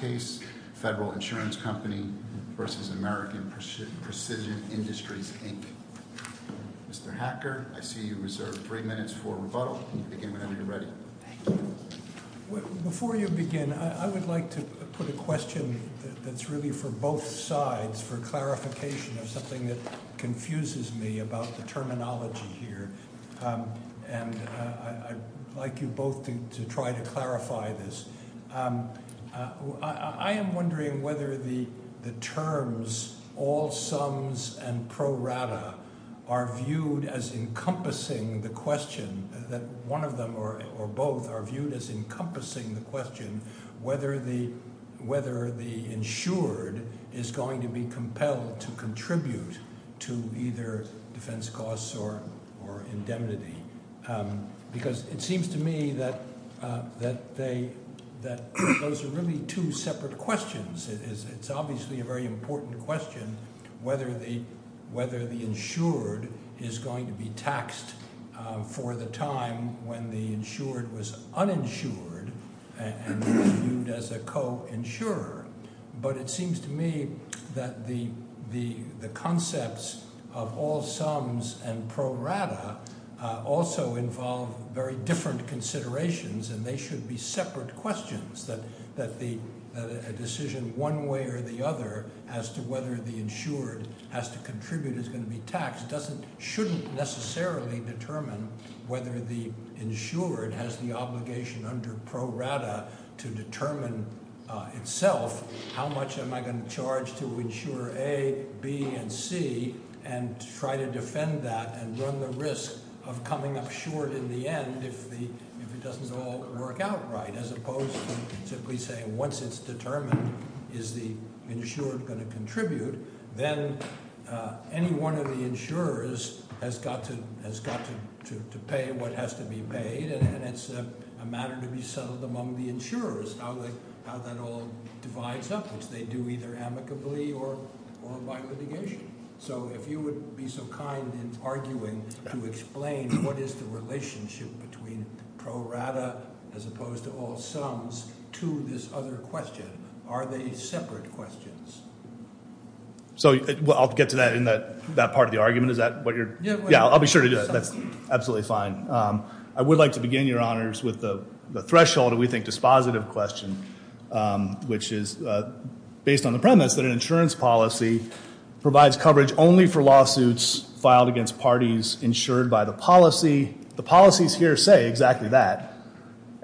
v. American Precision Industries, Inc. Mr. Hacker, I see you reserve three minutes for rebuttal. You can begin whenever you're ready. Thank you. Before you begin, I would like to put a question that's really for both sides, for clarification of something that confuses me about the terminology here. And I'd like you both to try to clarify this. I am wondering whether the terms all sums and pro rata are viewed as encompassing the question, that one of them or both are viewed as encompassing the question, whether the insured is going to be compelled to contribute to either defense costs or indemnity. Because it seems to me that those are really two separate questions. It's obviously a very important question whether the insured is going to be taxed for the time when the insured was uninsured and was viewed as a co-insurer. But it seems to me that the concepts of all sums and pro rata also involve very different considerations, and they should be separate questions, that a decision one way or the other as to whether the insured has to contribute is going to be taxed shouldn't necessarily determine whether the insured has the obligation under pro rata to determine itself how much am I going to charge to insure A, B, and C, and try to defend that and run the risk of coming up short in the end if it doesn't all work out right, as opposed to simply saying once it's determined, is the insured going to contribute? Then any one of the insurers has got to pay what has to be paid, and it's a matter to be settled among the insurers how that all divides up, which they do either amicably or by litigation. So if you would be so kind in arguing to explain what is the relationship between pro rata as opposed to all sums to this other question. Are they separate questions? So I'll get to that in that part of the argument. Yeah, I'll be sure to do that. That's absolutely fine. I would like to begin, Your Honors, with the threshold, we think, dispositive question, which is based on the premise that an insurance policy provides coverage only for lawsuits filed against parties insured by the policy. The policies here say exactly that,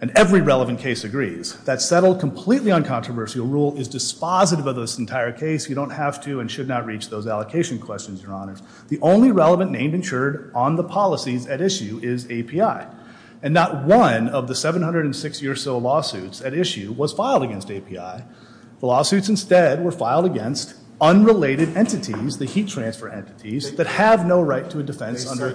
and every relevant case agrees. That settled completely uncontroversial rule is dispositive of this entire case. You don't have to and should not reach those allocation questions, Your Honors. The only relevant name insured on the policies at issue is API, and not one of the 706 or so lawsuits at issue was filed against API. The lawsuits instead were filed against unrelated entities, the heat transfer entities, that have no right to a defense under-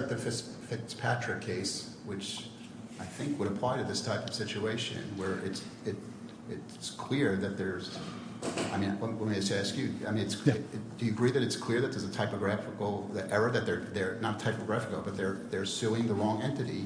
I think would apply to this type of situation where it's clear that there's, I mean, let me ask you, do you agree that it's clear that there's a typographical error, that they're not typographical, but they're suing the wrong entity,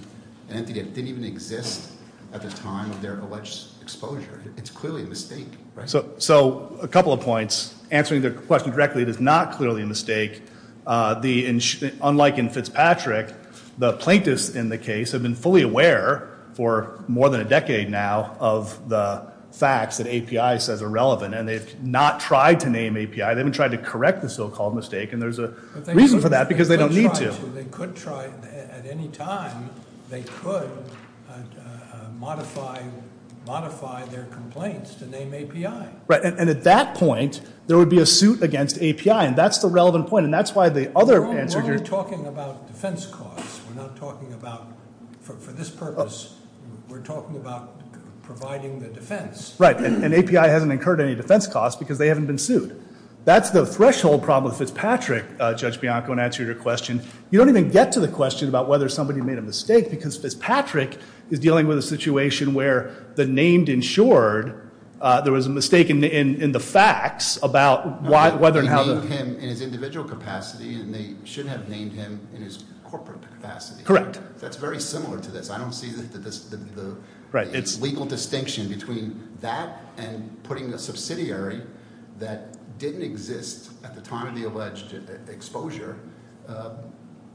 an entity that didn't even exist at the time of their alleged exposure? It's clearly a mistake, right? So a couple of points. Answering the question directly, it is not clearly a mistake. Unlike in Fitzpatrick, the plaintiffs in the case have been fully aware for more than a decade now of the facts that API says are relevant, and they've not tried to name API. They haven't tried to correct the so-called mistake, and there's a reason for that, because they don't need to. They could try at any time. They could modify their complaints to name API. Right, and at that point, there would be a suit against API, and that's the relevant point, and that's why the other answer here- We're not talking about defense costs. We're not talking about, for this purpose, we're talking about providing the defense. Right, and API hasn't incurred any defense costs because they haven't been sued. That's the threshold problem with Fitzpatrick, Judge Bianco, in answer to your question. You don't even get to the question about whether somebody made a mistake, because Fitzpatrick is dealing with a situation where the named insured, there was a mistake in the facts about whether and how- He named him in his individual capacity, and they should have named him in his corporate capacity. Correct. That's very similar to this. I don't see the legal distinction between that and putting a subsidiary that didn't exist at the time of the alleged exposure,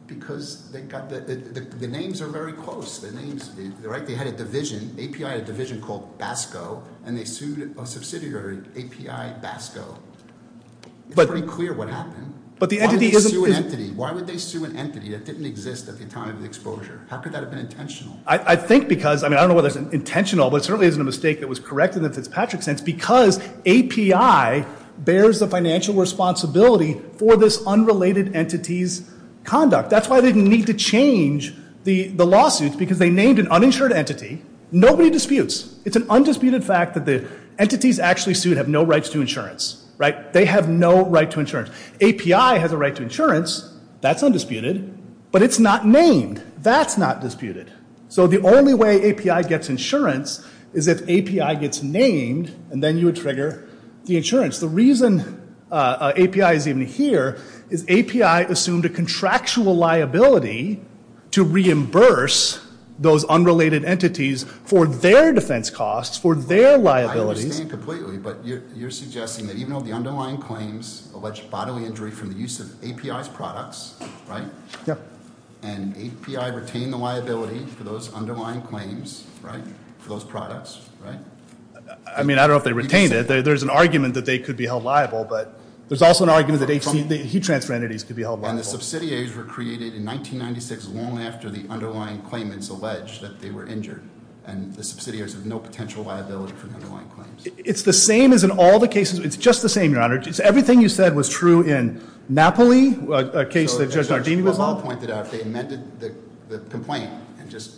because the names are very close. They had a division. API had a division called BASCO, and they sued a subsidiary, API BASCO. It's pretty clear what happened. But the entity isn't- Why would they sue an entity that didn't exist at the time of the exposure? How could that have been intentional? I think because, I mean, I don't know whether it's intentional, but it certainly isn't a mistake that was correct in the Fitzpatrick sense, because API bears the financial responsibility for this unrelated entity's conduct. That's why they didn't need to change the lawsuit, because they named an uninsured entity. Nobody disputes. It's an undisputed fact that the entities actually sued have no rights to insurance. They have no right to insurance. API has a right to insurance. That's undisputed. But it's not named. That's not disputed. So the only way API gets insurance is if API gets named, and then you would trigger the insurance. The reason API is even here is API assumed a contractual liability to reimburse those unrelated entities for their defense costs, for their liabilities. I understand completely, but you're suggesting that even though the underlying claims allege bodily injury from the use of API's products, right? Yeah. And API retained the liability for those underlying claims, right, for those products, right? I mean, I don't know if they retained it. There's an argument that they could be held liable, but there's also an argument that heat transfer entities could be held liable. And the subsidiaries were created in 1996 long after the underlying claimants alleged that they were injured, and the subsidiaries have no potential liability for the underlying claims. It's the same as in all the cases. It's just the same, Your Honor. Everything you said was true in Napoli, a case that Judge Nardini was on. If you had pointed out they amended the complaint and just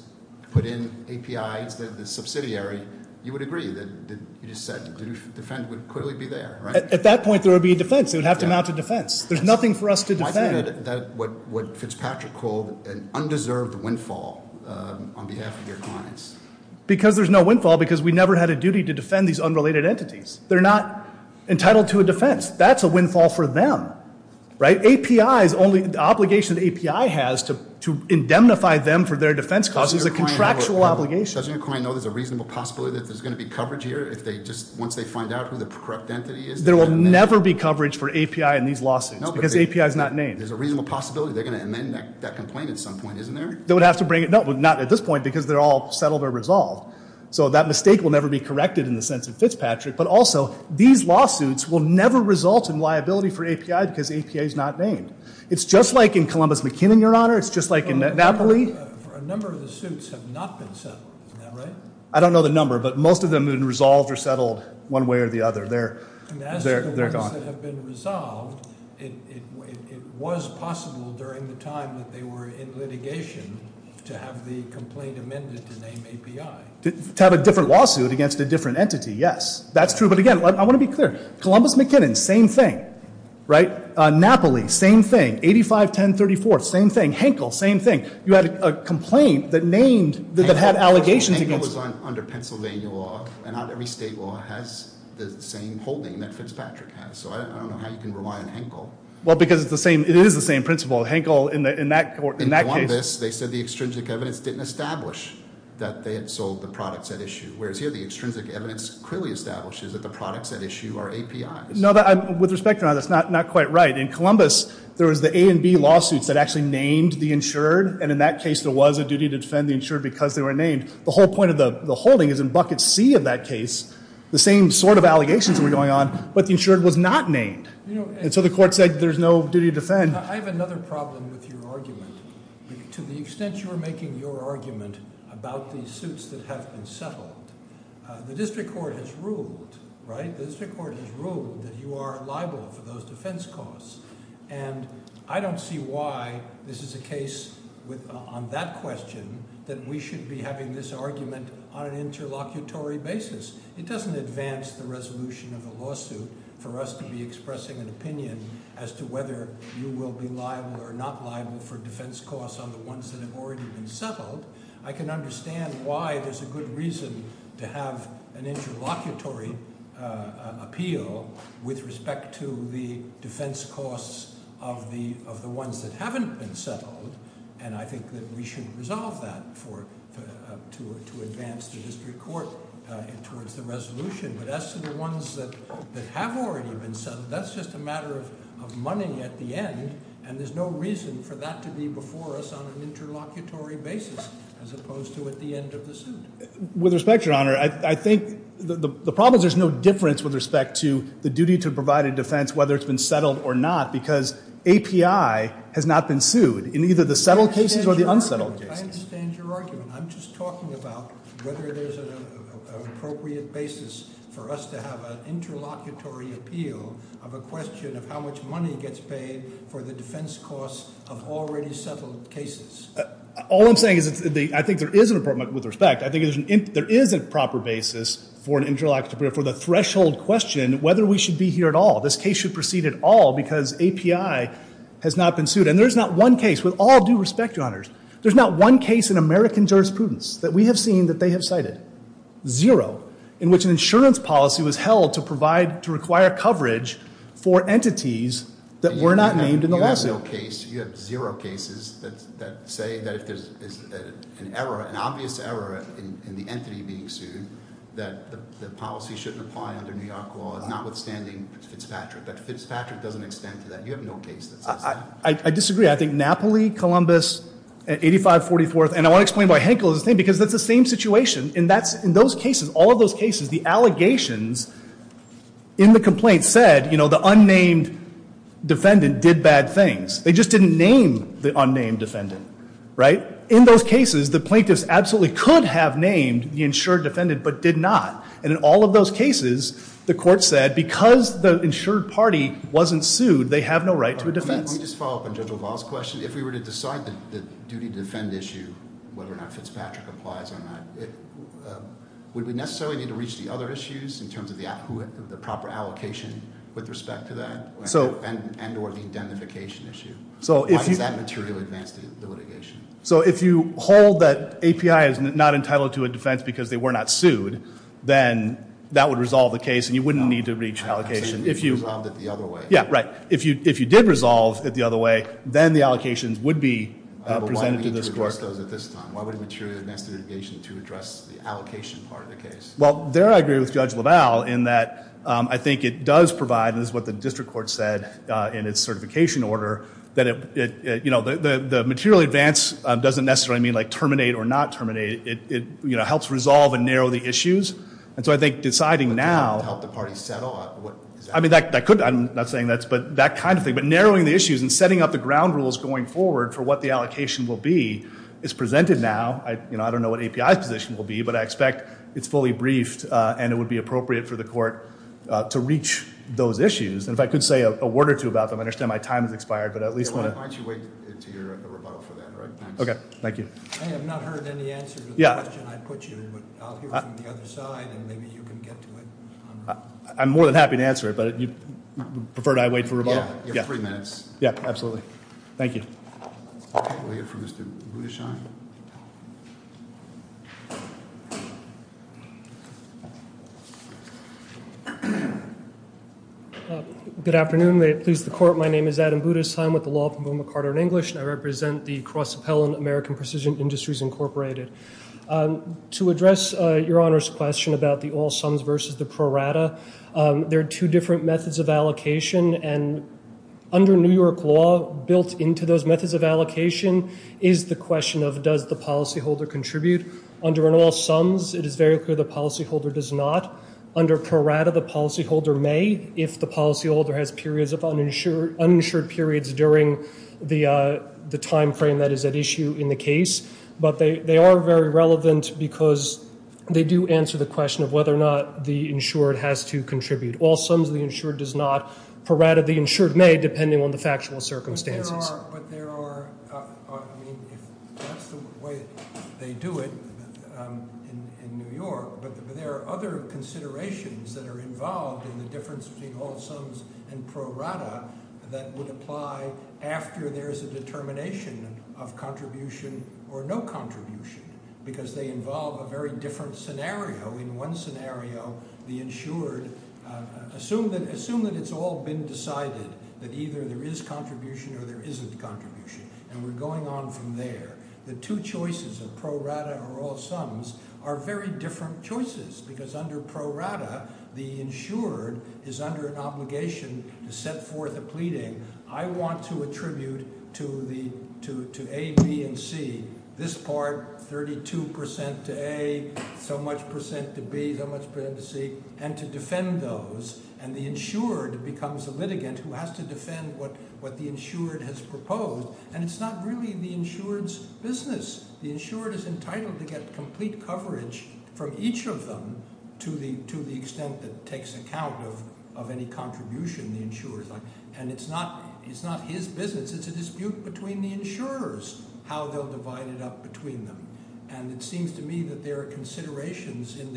put in API as the subsidiary, you would agree. You just said defend would clearly be there, right? At that point, there would be a defense. It would have to amount to defense. There's nothing for us to defend. Why is that what Fitzpatrick called an undeserved windfall on behalf of their clients? Because there's no windfall because we never had a duty to defend these unrelated entities. They're not entitled to a defense. That's a windfall for them, right? The obligation API has to indemnify them for their defense costs is a contractual obligation. Doesn't your client know there's a reasonable possibility that there's going to be coverage here once they find out who the corrupt entity is? There will never be coverage for API in these lawsuits because API is not named. There's a reasonable possibility they're going to amend that complaint at some point, isn't there? They would have to bring it. No, not at this point because they're all settled or resolved. So that mistake will never be corrected in the sense of Fitzpatrick. But also, these lawsuits will never result in liability for API because API is not named. It's just like in Columbus-McKinnon, Your Honor. It's just like in Napoli. A number of the suits have not been settled. Is that right? I don't know the number, but most of them have been resolved or settled one way or the other. They're gone. And as for those that have been resolved, it was possible during the time that they were in litigation to have the complaint amended to name API. To have a different lawsuit against a different entity, yes. That's true. But, again, I want to be clear. Columbus-McKinnon, same thing. Napoli, same thing. 85-1034, same thing. Henkel, same thing. You had a complaint that had allegations against it. Henkel was under Pennsylvania law, and not every state law has the same holding that Fitzpatrick has. So I don't know how you can rely on Henkel. Well, because it is the same principle. Henkel, in that case— In Columbus, they said the extrinsic evidence didn't establish that they had sold the products at issue. Whereas here, the extrinsic evidence clearly establishes that the products at issue are APIs. No, with respect to that, that's not quite right. In Columbus, there was the A and B lawsuits that actually named the insured. And in that case, there was a duty to defend the insured because they were named. The whole point of the holding is in bucket C of that case, the same sort of allegations were going on, but the insured was not named. And so the court said there's no duty to defend. I have another problem with your argument. To the extent you're making your argument about these suits that have been settled, the district court has ruled, right? The district court has ruled that you are liable for those defense costs. And I don't see why this is a case on that question that we should be having this argument on an interlocutory basis. It doesn't advance the resolution of the lawsuit for us to be expressing an opinion as to whether you will be liable or not liable for defense costs on the ones that have already been settled. I can understand why there's a good reason to have an interlocutory appeal with respect to the defense costs of the ones that haven't been settled. And I think that we should resolve that to advance the district court towards the resolution. But as to the ones that have already been settled, that's just a matter of money at the end. And there's no reason for that to be before us on an interlocutory basis as opposed to at the end of the suit. With respect, your honor, I think the problem is there's no difference with respect to the duty to provide a defense whether it's been settled or not. Because API has not been sued in either the settled cases or the unsettled cases. I understand your argument. I'm just talking about whether there's an appropriate basis for us to have an interlocutory appeal of a question of how much money gets paid for the defense costs of already settled cases. All I'm saying is I think there is a problem with respect. I think there is a proper basis for an interlocutory appeal for the threshold question whether we should be here at all. This case should proceed at all because API has not been sued. And there's not one case, with all due respect, your honors, there's not one case in American jurisprudence that we have seen that they have cited. Zero. In which an insurance policy was held to provide, to require coverage for entities that were not named in the lawsuit. There's no case, you have zero cases that say that if there's an error, an obvious error in the entity being sued, that the policy shouldn't apply under New York law, notwithstanding Fitzpatrick. But Fitzpatrick doesn't extend to that. You have no case that says that. I disagree. I think Napoli, Columbus, 8544th, and I want to explain why Henkel is the same, because that's the same situation. And that's, in those cases, all of those cases, the allegations in the complaint said, you know, the unnamed defendant did bad things. They just didn't name the unnamed defendant, right? In those cases, the plaintiffs absolutely could have named the insured defendant, but did not. And in all of those cases, the court said, because the insured party wasn't sued, they have no right to a defense. Let me just follow up on Judge LaValle's question. If we were to decide the duty to defend issue, whether or not Fitzpatrick applies or not, would we necessarily need to reach the other issues in terms of the proper allocation with respect to that? And or the identification issue? Why does that material advance the litigation? So if you hold that API is not entitled to a defense because they were not sued, then that would resolve the case and you wouldn't need to reach an allocation. I'm saying you resolved it the other way. Yeah, right. If you did resolve it the other way, then the allocations would be presented to this court. Why would we need to address those at this time? Why would a material advance the litigation to address the allocation part of the case? Well, there I agree with Judge LaValle in that I think it does provide, and this is what the district court said in its certification order, that the material advance doesn't necessarily mean terminate or not terminate, it helps resolve and narrow the issues. And so I think deciding now- To help the parties settle? I mean, I'm not saying that, but that kind of thing. But narrowing the issues and setting up the ground rules going forward for what the allocation will be is presented now. I don't know what API's position will be, but I expect it's fully briefed and it would be appropriate for the court to reach those issues. And if I could say a word or two about them. I understand my time has expired, but at least I want to- Why don't you wait until your rebuttal for that, right? Okay, thank you. I have not heard any answer to the question I put you, but I'll hear from the other side and maybe you can get to it. I'm more than happy to answer it, but you'd prefer that I wait for rebuttal? Yeah, you have three minutes. Yeah, absolutely. Thank you. Okay, we'll hear from Mr. Budishine. Good afternoon, may it please the court. My name is Adam Budishine with the law firm of McArthur and English, and I represent the Cross Appellant American Precision Industries Incorporated. To address your Honor's question about the all sums versus the pro rata, there are two different methods of allocation. And under New York law, built into those methods of allocation is the question of does the policyholder contribute. Under an all sums, it is very clear the policyholder does not. Under pro rata, the policyholder may if the policyholder has periods of uninsured periods during the time frame that is at issue in the case. But they are very relevant because they do answer the question of whether or not the insured has to contribute. All sums, the insured does not. Pro rata, the insured may, depending on the factual circumstances. But there are, I mean, if that's the way they do it in New York. But there are other considerations that are involved in the difference between all sums and pro rata that would apply after there's a determination of contribution or no contribution. Because they involve a very different scenario. In one scenario, the insured, assume that it's all been decided, that either there is contribution or there isn't contribution, and we're going on from there. The two choices of pro rata or all sums are very different choices. Because under pro rata, the insured is under an obligation to set forth a pleading. I want to attribute to A, B, and C, this part 32% to A, so much percent to B, so much percent to C, and to defend those. And the insured becomes the litigant who has to defend what the insured has proposed. And it's not really the insured's business. The insured is entitled to get complete coverage from each of them, to the extent that it takes account of any contribution the insurer's on. And it's not his business, it's a dispute between the insurers, how they'll divide it up between them. And it seems to me that there are considerations in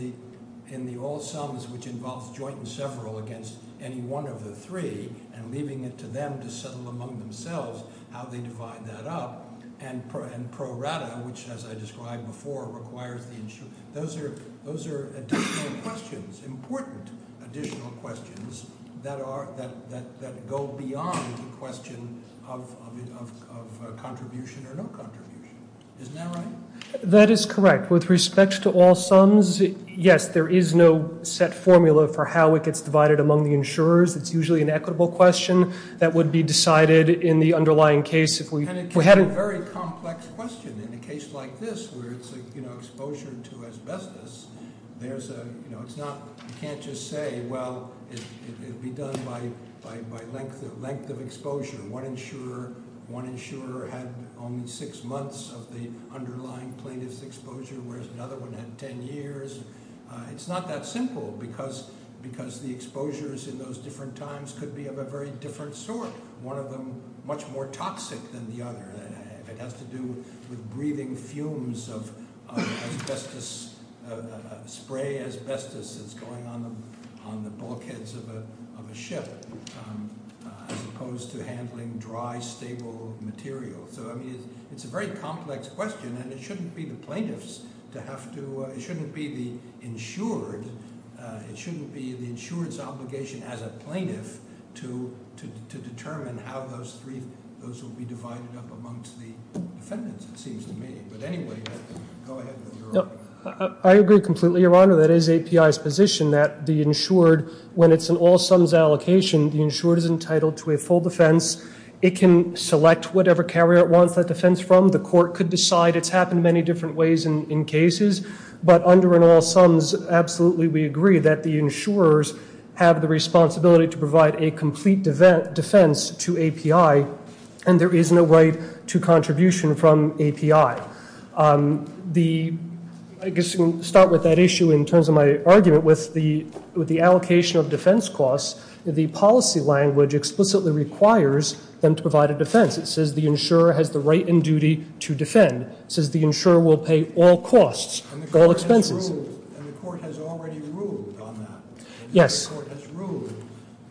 the all sums, which involves joint and several against any one of the three, and leaving it to them to settle among themselves how they divide that up. And pro rata, which as I described before, requires the insurer. Those are additional questions, important additional questions, that go beyond the question of contribution or no contribution. Isn't that right? That is correct. With respect to all sums, yes, there is no set formula for how it gets divided among the insurers. It's usually an equitable question that would be decided in the underlying case if we- It's a very complex question in a case like this, where it's exposure to asbestos. You can't just say, well, it'd be done by length of exposure. One insurer had only six months of the underlying plaintiff's exposure, whereas another one had ten years. It's not that simple, because the exposures in those different times could be of a very different sort. One of them much more toxic than the other. It has to do with breathing fumes of spray asbestos that's going on the bulkheads of a ship, as opposed to handling dry, stable material. So, I mean, it's a very complex question, and it shouldn't be the plaintiffs to have to, it shouldn't be the insured, it shouldn't be the insured's obligation as a plaintiff to determine how those three, those will be divided up amongst the defendants, it seems to me. But anyway, go ahead with your- I agree completely, your honor. That is API's position that the insured, when it's an all sums allocation, the insured is entitled to a full defense. It can select whatever carrier it wants that defense from. The court could decide, it's happened many different ways in cases. But under an all sums, absolutely we agree that the insurers have the responsibility to provide a complete defense to API, and there is no right to contribution from API. The, I guess we can start with that issue in terms of my argument with the allocation of defense costs. The policy language explicitly requires them to provide a defense. It says the insurer has the right and duty to defend. It says the insurer will pay all costs, all expenses. And the court has already ruled on that. Yes. The court has ruled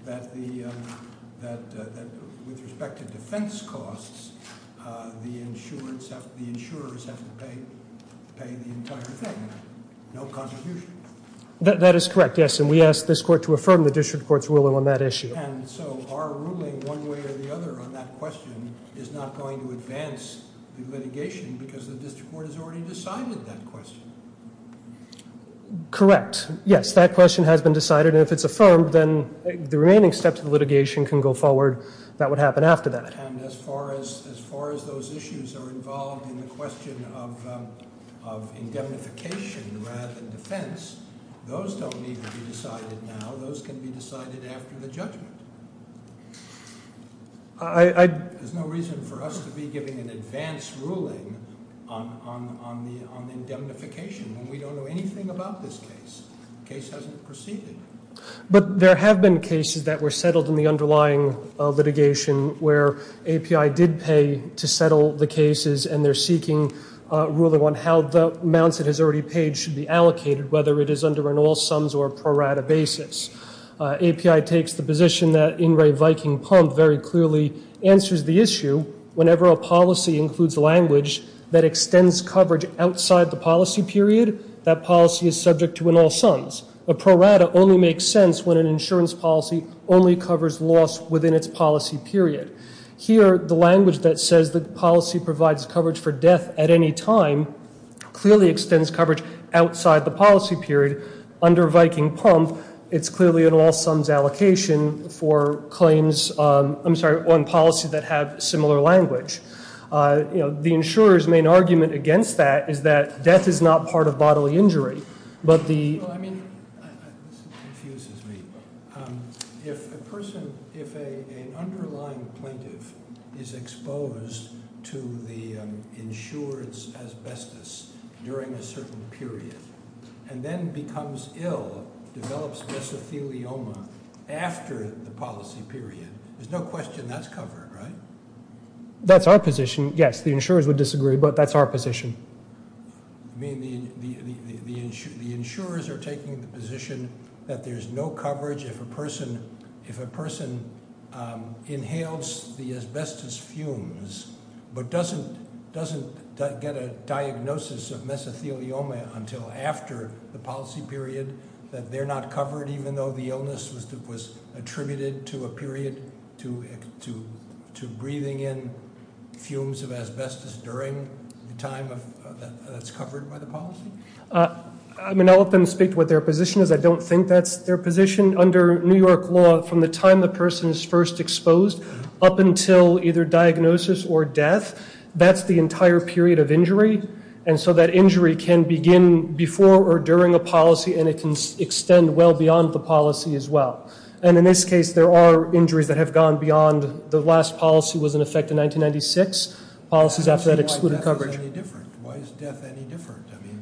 that the, that with respect to defense costs, the insurers have to pay the entire thing, no contribution. That is correct, yes, and we ask this court to affirm the district court's ruling on that issue. And so our ruling one way or the other on that question is not going to advance the litigation because the district court has already decided that question. Correct, yes, that question has been decided, and if it's affirmed, then the remaining steps of the litigation can go forward. That would happen after that. And as far as those issues are involved in the question of indemnification rather than defense, those don't need to be decided now, those can be decided after the judgment. There's no reason for us to be giving an advance ruling on the indemnification when we don't know anything about this case. Case hasn't proceeded. But there have been cases that were settled in the underlying litigation where API did pay to settle the cases and they're seeking ruling on how the amounts it has already paid should be allocated, whether it is under an all sums or a pro rata basis. API takes the position that In Re Viking Pump very clearly answers the issue whenever a policy includes language that extends coverage outside the policy period, that policy is subject to an all sums. A pro rata only makes sense when an insurance policy only covers loss within its policy period. Here, the language that says the policy provides coverage for death at any time, clearly extends coverage outside the policy period under Viking Pump. It's clearly an all sums allocation for claims, I'm sorry, on policy that have similar language. The insurer's main argument against that is that death is not part of bodily injury, but the- This confuses me. If a person, if an underlying plaintiff is exposed to the insurer's asbestos during a certain period, and then becomes ill, develops mesothelioma after the policy period, there's no question that's covered, right? That's our position, yes. The insurers would disagree, but that's our position. I mean, the insurers are taking the position that there's no coverage if a person inhales the asbestos fumes, but doesn't get a diagnosis of mesothelioma until after the policy period. That they're not covered even though the illness was attributed to a period to breathing in fumes of asbestos during the time that's covered by the policy? I mean, I'll let them speak to what their position is. I don't think that's their position. Under New York law, from the time the person is first exposed up until either diagnosis or death, that's the entire period of injury. And so that injury can begin before or during a policy, and it can extend well beyond the policy as well. And in this case, there are injuries that have gone beyond the last policy was in effect in 1996, policies after that excluded coverage. Why is death any different? I mean,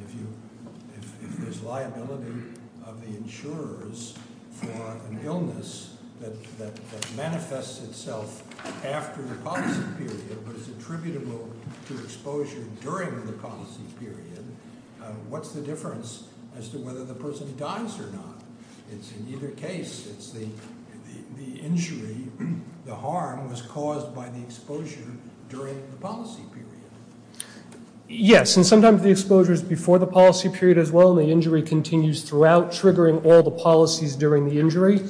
if there's liability of the insurers for an illness that manifests itself after the policy period, but is attributable to exposure during the policy period, what's the difference as to whether the person dies or not? It's in either case, it's the injury, the harm was caused by the exposure during the policy period. Yes, and sometimes the exposure is before the policy period as well, and the injury continues throughout triggering all the policies during the injury.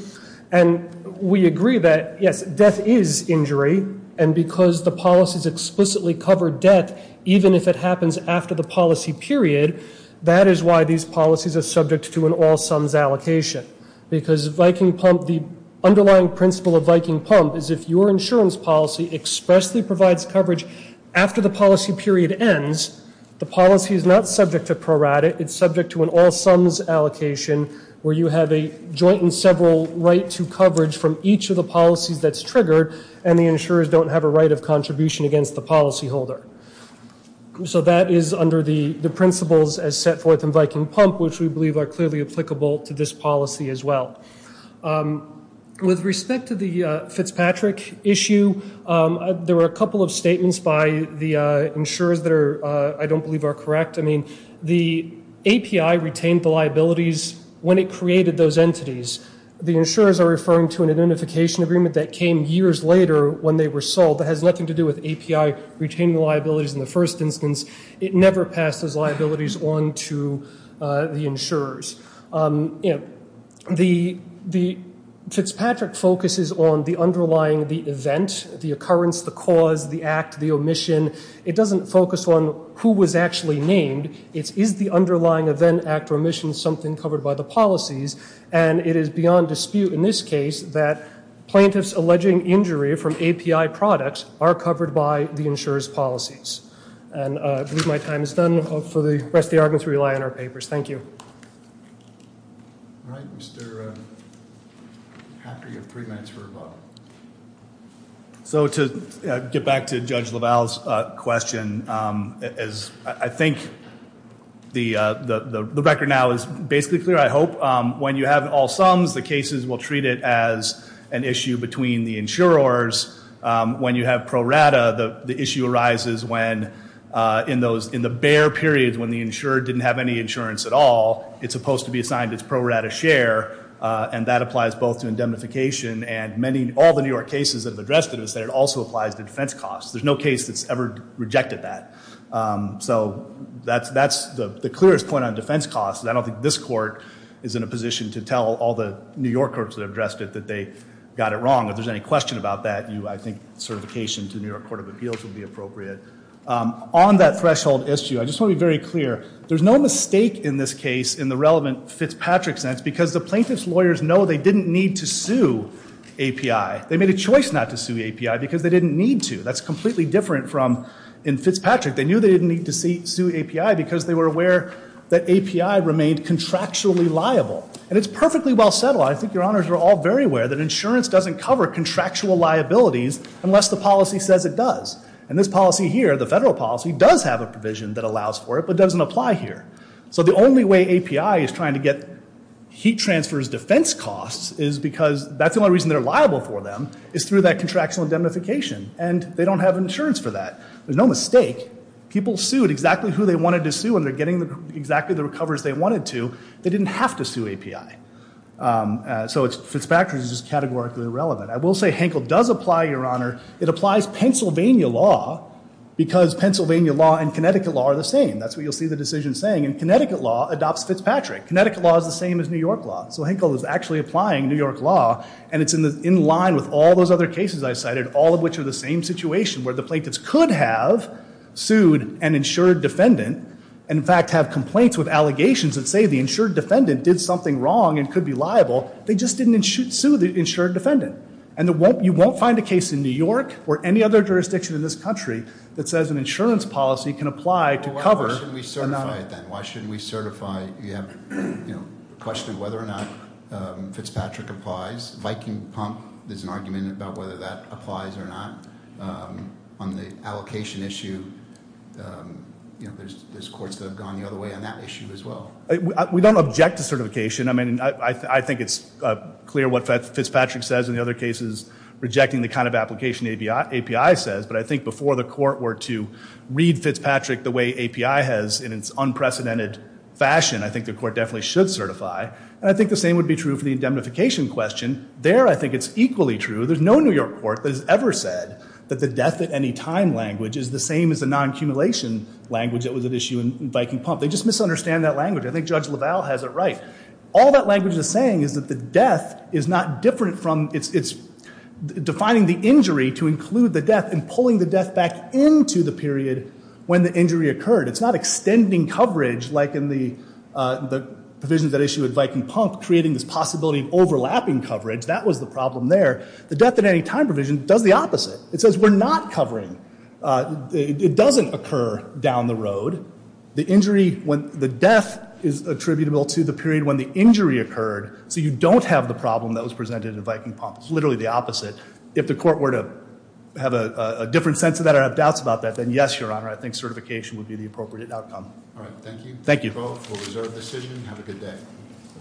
And we agree that, yes, death is injury. And because the policies explicitly cover death, even if it happens after the policy period, that is why these policies are subject to an all sums allocation. Because the underlying principle of Viking Pump is if your insurance policy expressly provides coverage after the policy period ends, the policy is not subject to prorate, it's subject to an all sums allocation where you have a joint and several right to coverage from each of the policies that's triggered. And the insurers don't have a right of contribution against the policy holder. So that is under the principles as set forth in Viking Pump, which we believe are clearly applicable to this policy as well. With respect to the Fitzpatrick issue, there were a couple of statements by the insurers that I don't believe are correct. I mean, the API retained the liabilities when it created those entities. The insurers are referring to an identification agreement that came years later when they were sold. That has nothing to do with API retaining liabilities in the first instance. It never passes liabilities on to the insurers. The Fitzpatrick focuses on the underlying, the event, the occurrence, the cause, the act, the omission. It doesn't focus on who was actually named. It is the underlying event, act, or omission, something covered by the policies. And it is beyond dispute in this case that plaintiff's alleging injury from API products are covered by the insurer's policies. And I believe my time is done for the rest of the argument to rely on our papers. Thank you. All right, Mr. Hacker, you have three minutes for a vote. So to get back to Judge LaValle's question, as I think the record now is basically clear, I hope when you have all sums, the cases will treat it as an issue between the insurers. When you have pro rata, the issue arises when in the bare periods when the insurer didn't have any insurance at all, it's supposed to be assigned its pro rata share, and that applies both to indemnification and all the New York cases that have addressed it is that it also applies to defense costs. There's no case that's ever rejected that. So that's the clearest point on defense costs. I don't think this court is in a position to tell all the New York courts that have addressed it that they got it wrong. If there's any question about that, I think certification to New York Court of Appeals would be appropriate. On that threshold issue, I just want to be very clear. There's no mistake in this case in the relevant Fitzpatrick sense because the plaintiff's lawyers know they didn't need to sue API. They made a choice not to sue API because they didn't need to. That's completely different from in Fitzpatrick. They knew they didn't need to sue API because they were aware that API remained contractually liable. And it's perfectly well settled. I think your honors are all very aware that insurance doesn't cover contractual liabilities unless the policy says it does. And this policy here, the federal policy, does have a provision that allows for it, but doesn't apply here. So the only way API is trying to get heat transfers defense costs is because that's the only reason they're liable for them is through that contractual indemnification, and they don't have insurance for that. There's no mistake. People sued exactly who they wanted to sue, and they're getting exactly the recoveries they wanted to. They didn't have to sue API. So Fitzpatrick is just categorically irrelevant. I will say Henkel does apply, your honor. It applies Pennsylvania law because Pennsylvania law and Connecticut law are the same. That's what you'll see the decision saying. And Connecticut law adopts Fitzpatrick. Connecticut law is the same as New York law. So Henkel is actually applying New York law, and it's in line with all those other cases I cited, all of which are the same situation where the plaintiffs could have sued an insured defendant. And in fact, have complaints with allegations that say the insured defendant did something wrong and could be liable. They just didn't sue the insured defendant. And you won't find a case in New York or any other jurisdiction in this country that says an insurance policy can apply to cover- Why shouldn't we certify it then? Why shouldn't we certify, you have a question of whether or not Fitzpatrick applies. Viking pump, there's an argument about whether that applies or not. On the allocation issue, there's courts that have gone the other way on that issue as well. We don't object to certification. I mean, I think it's clear what Fitzpatrick says in the other cases, rejecting the kind of application API says. But I think before the court were to read Fitzpatrick the way API has in its unprecedented fashion, I think the court definitely should certify. And I think the same would be true for the indemnification question. There, I think it's equally true. There's no New York court that has ever said that the death at any time language is the same as the non-accumulation language that was at issue in Viking Pump. They just misunderstand that language. I think Judge LaValle has it right. All that language is saying is that the death is not different from, it's defining the injury to include the death and pulling the death back into the period when the injury occurred. It's not extending coverage like in the provisions at issue at Viking Pump, creating this possibility of overlapping coverage. That was the problem there. The death at any time provision does the opposite. It says we're not covering, it doesn't occur down the road. The death is attributable to the period when the injury occurred, so you don't have the problem that was presented in Viking Pump, literally the opposite. If the court were to have a different sense of that or have doubts about that, then yes, your honor, I think certification would be the appropriate outcome. All right, thank you. Thank you. We'll reserve the decision, have a good day.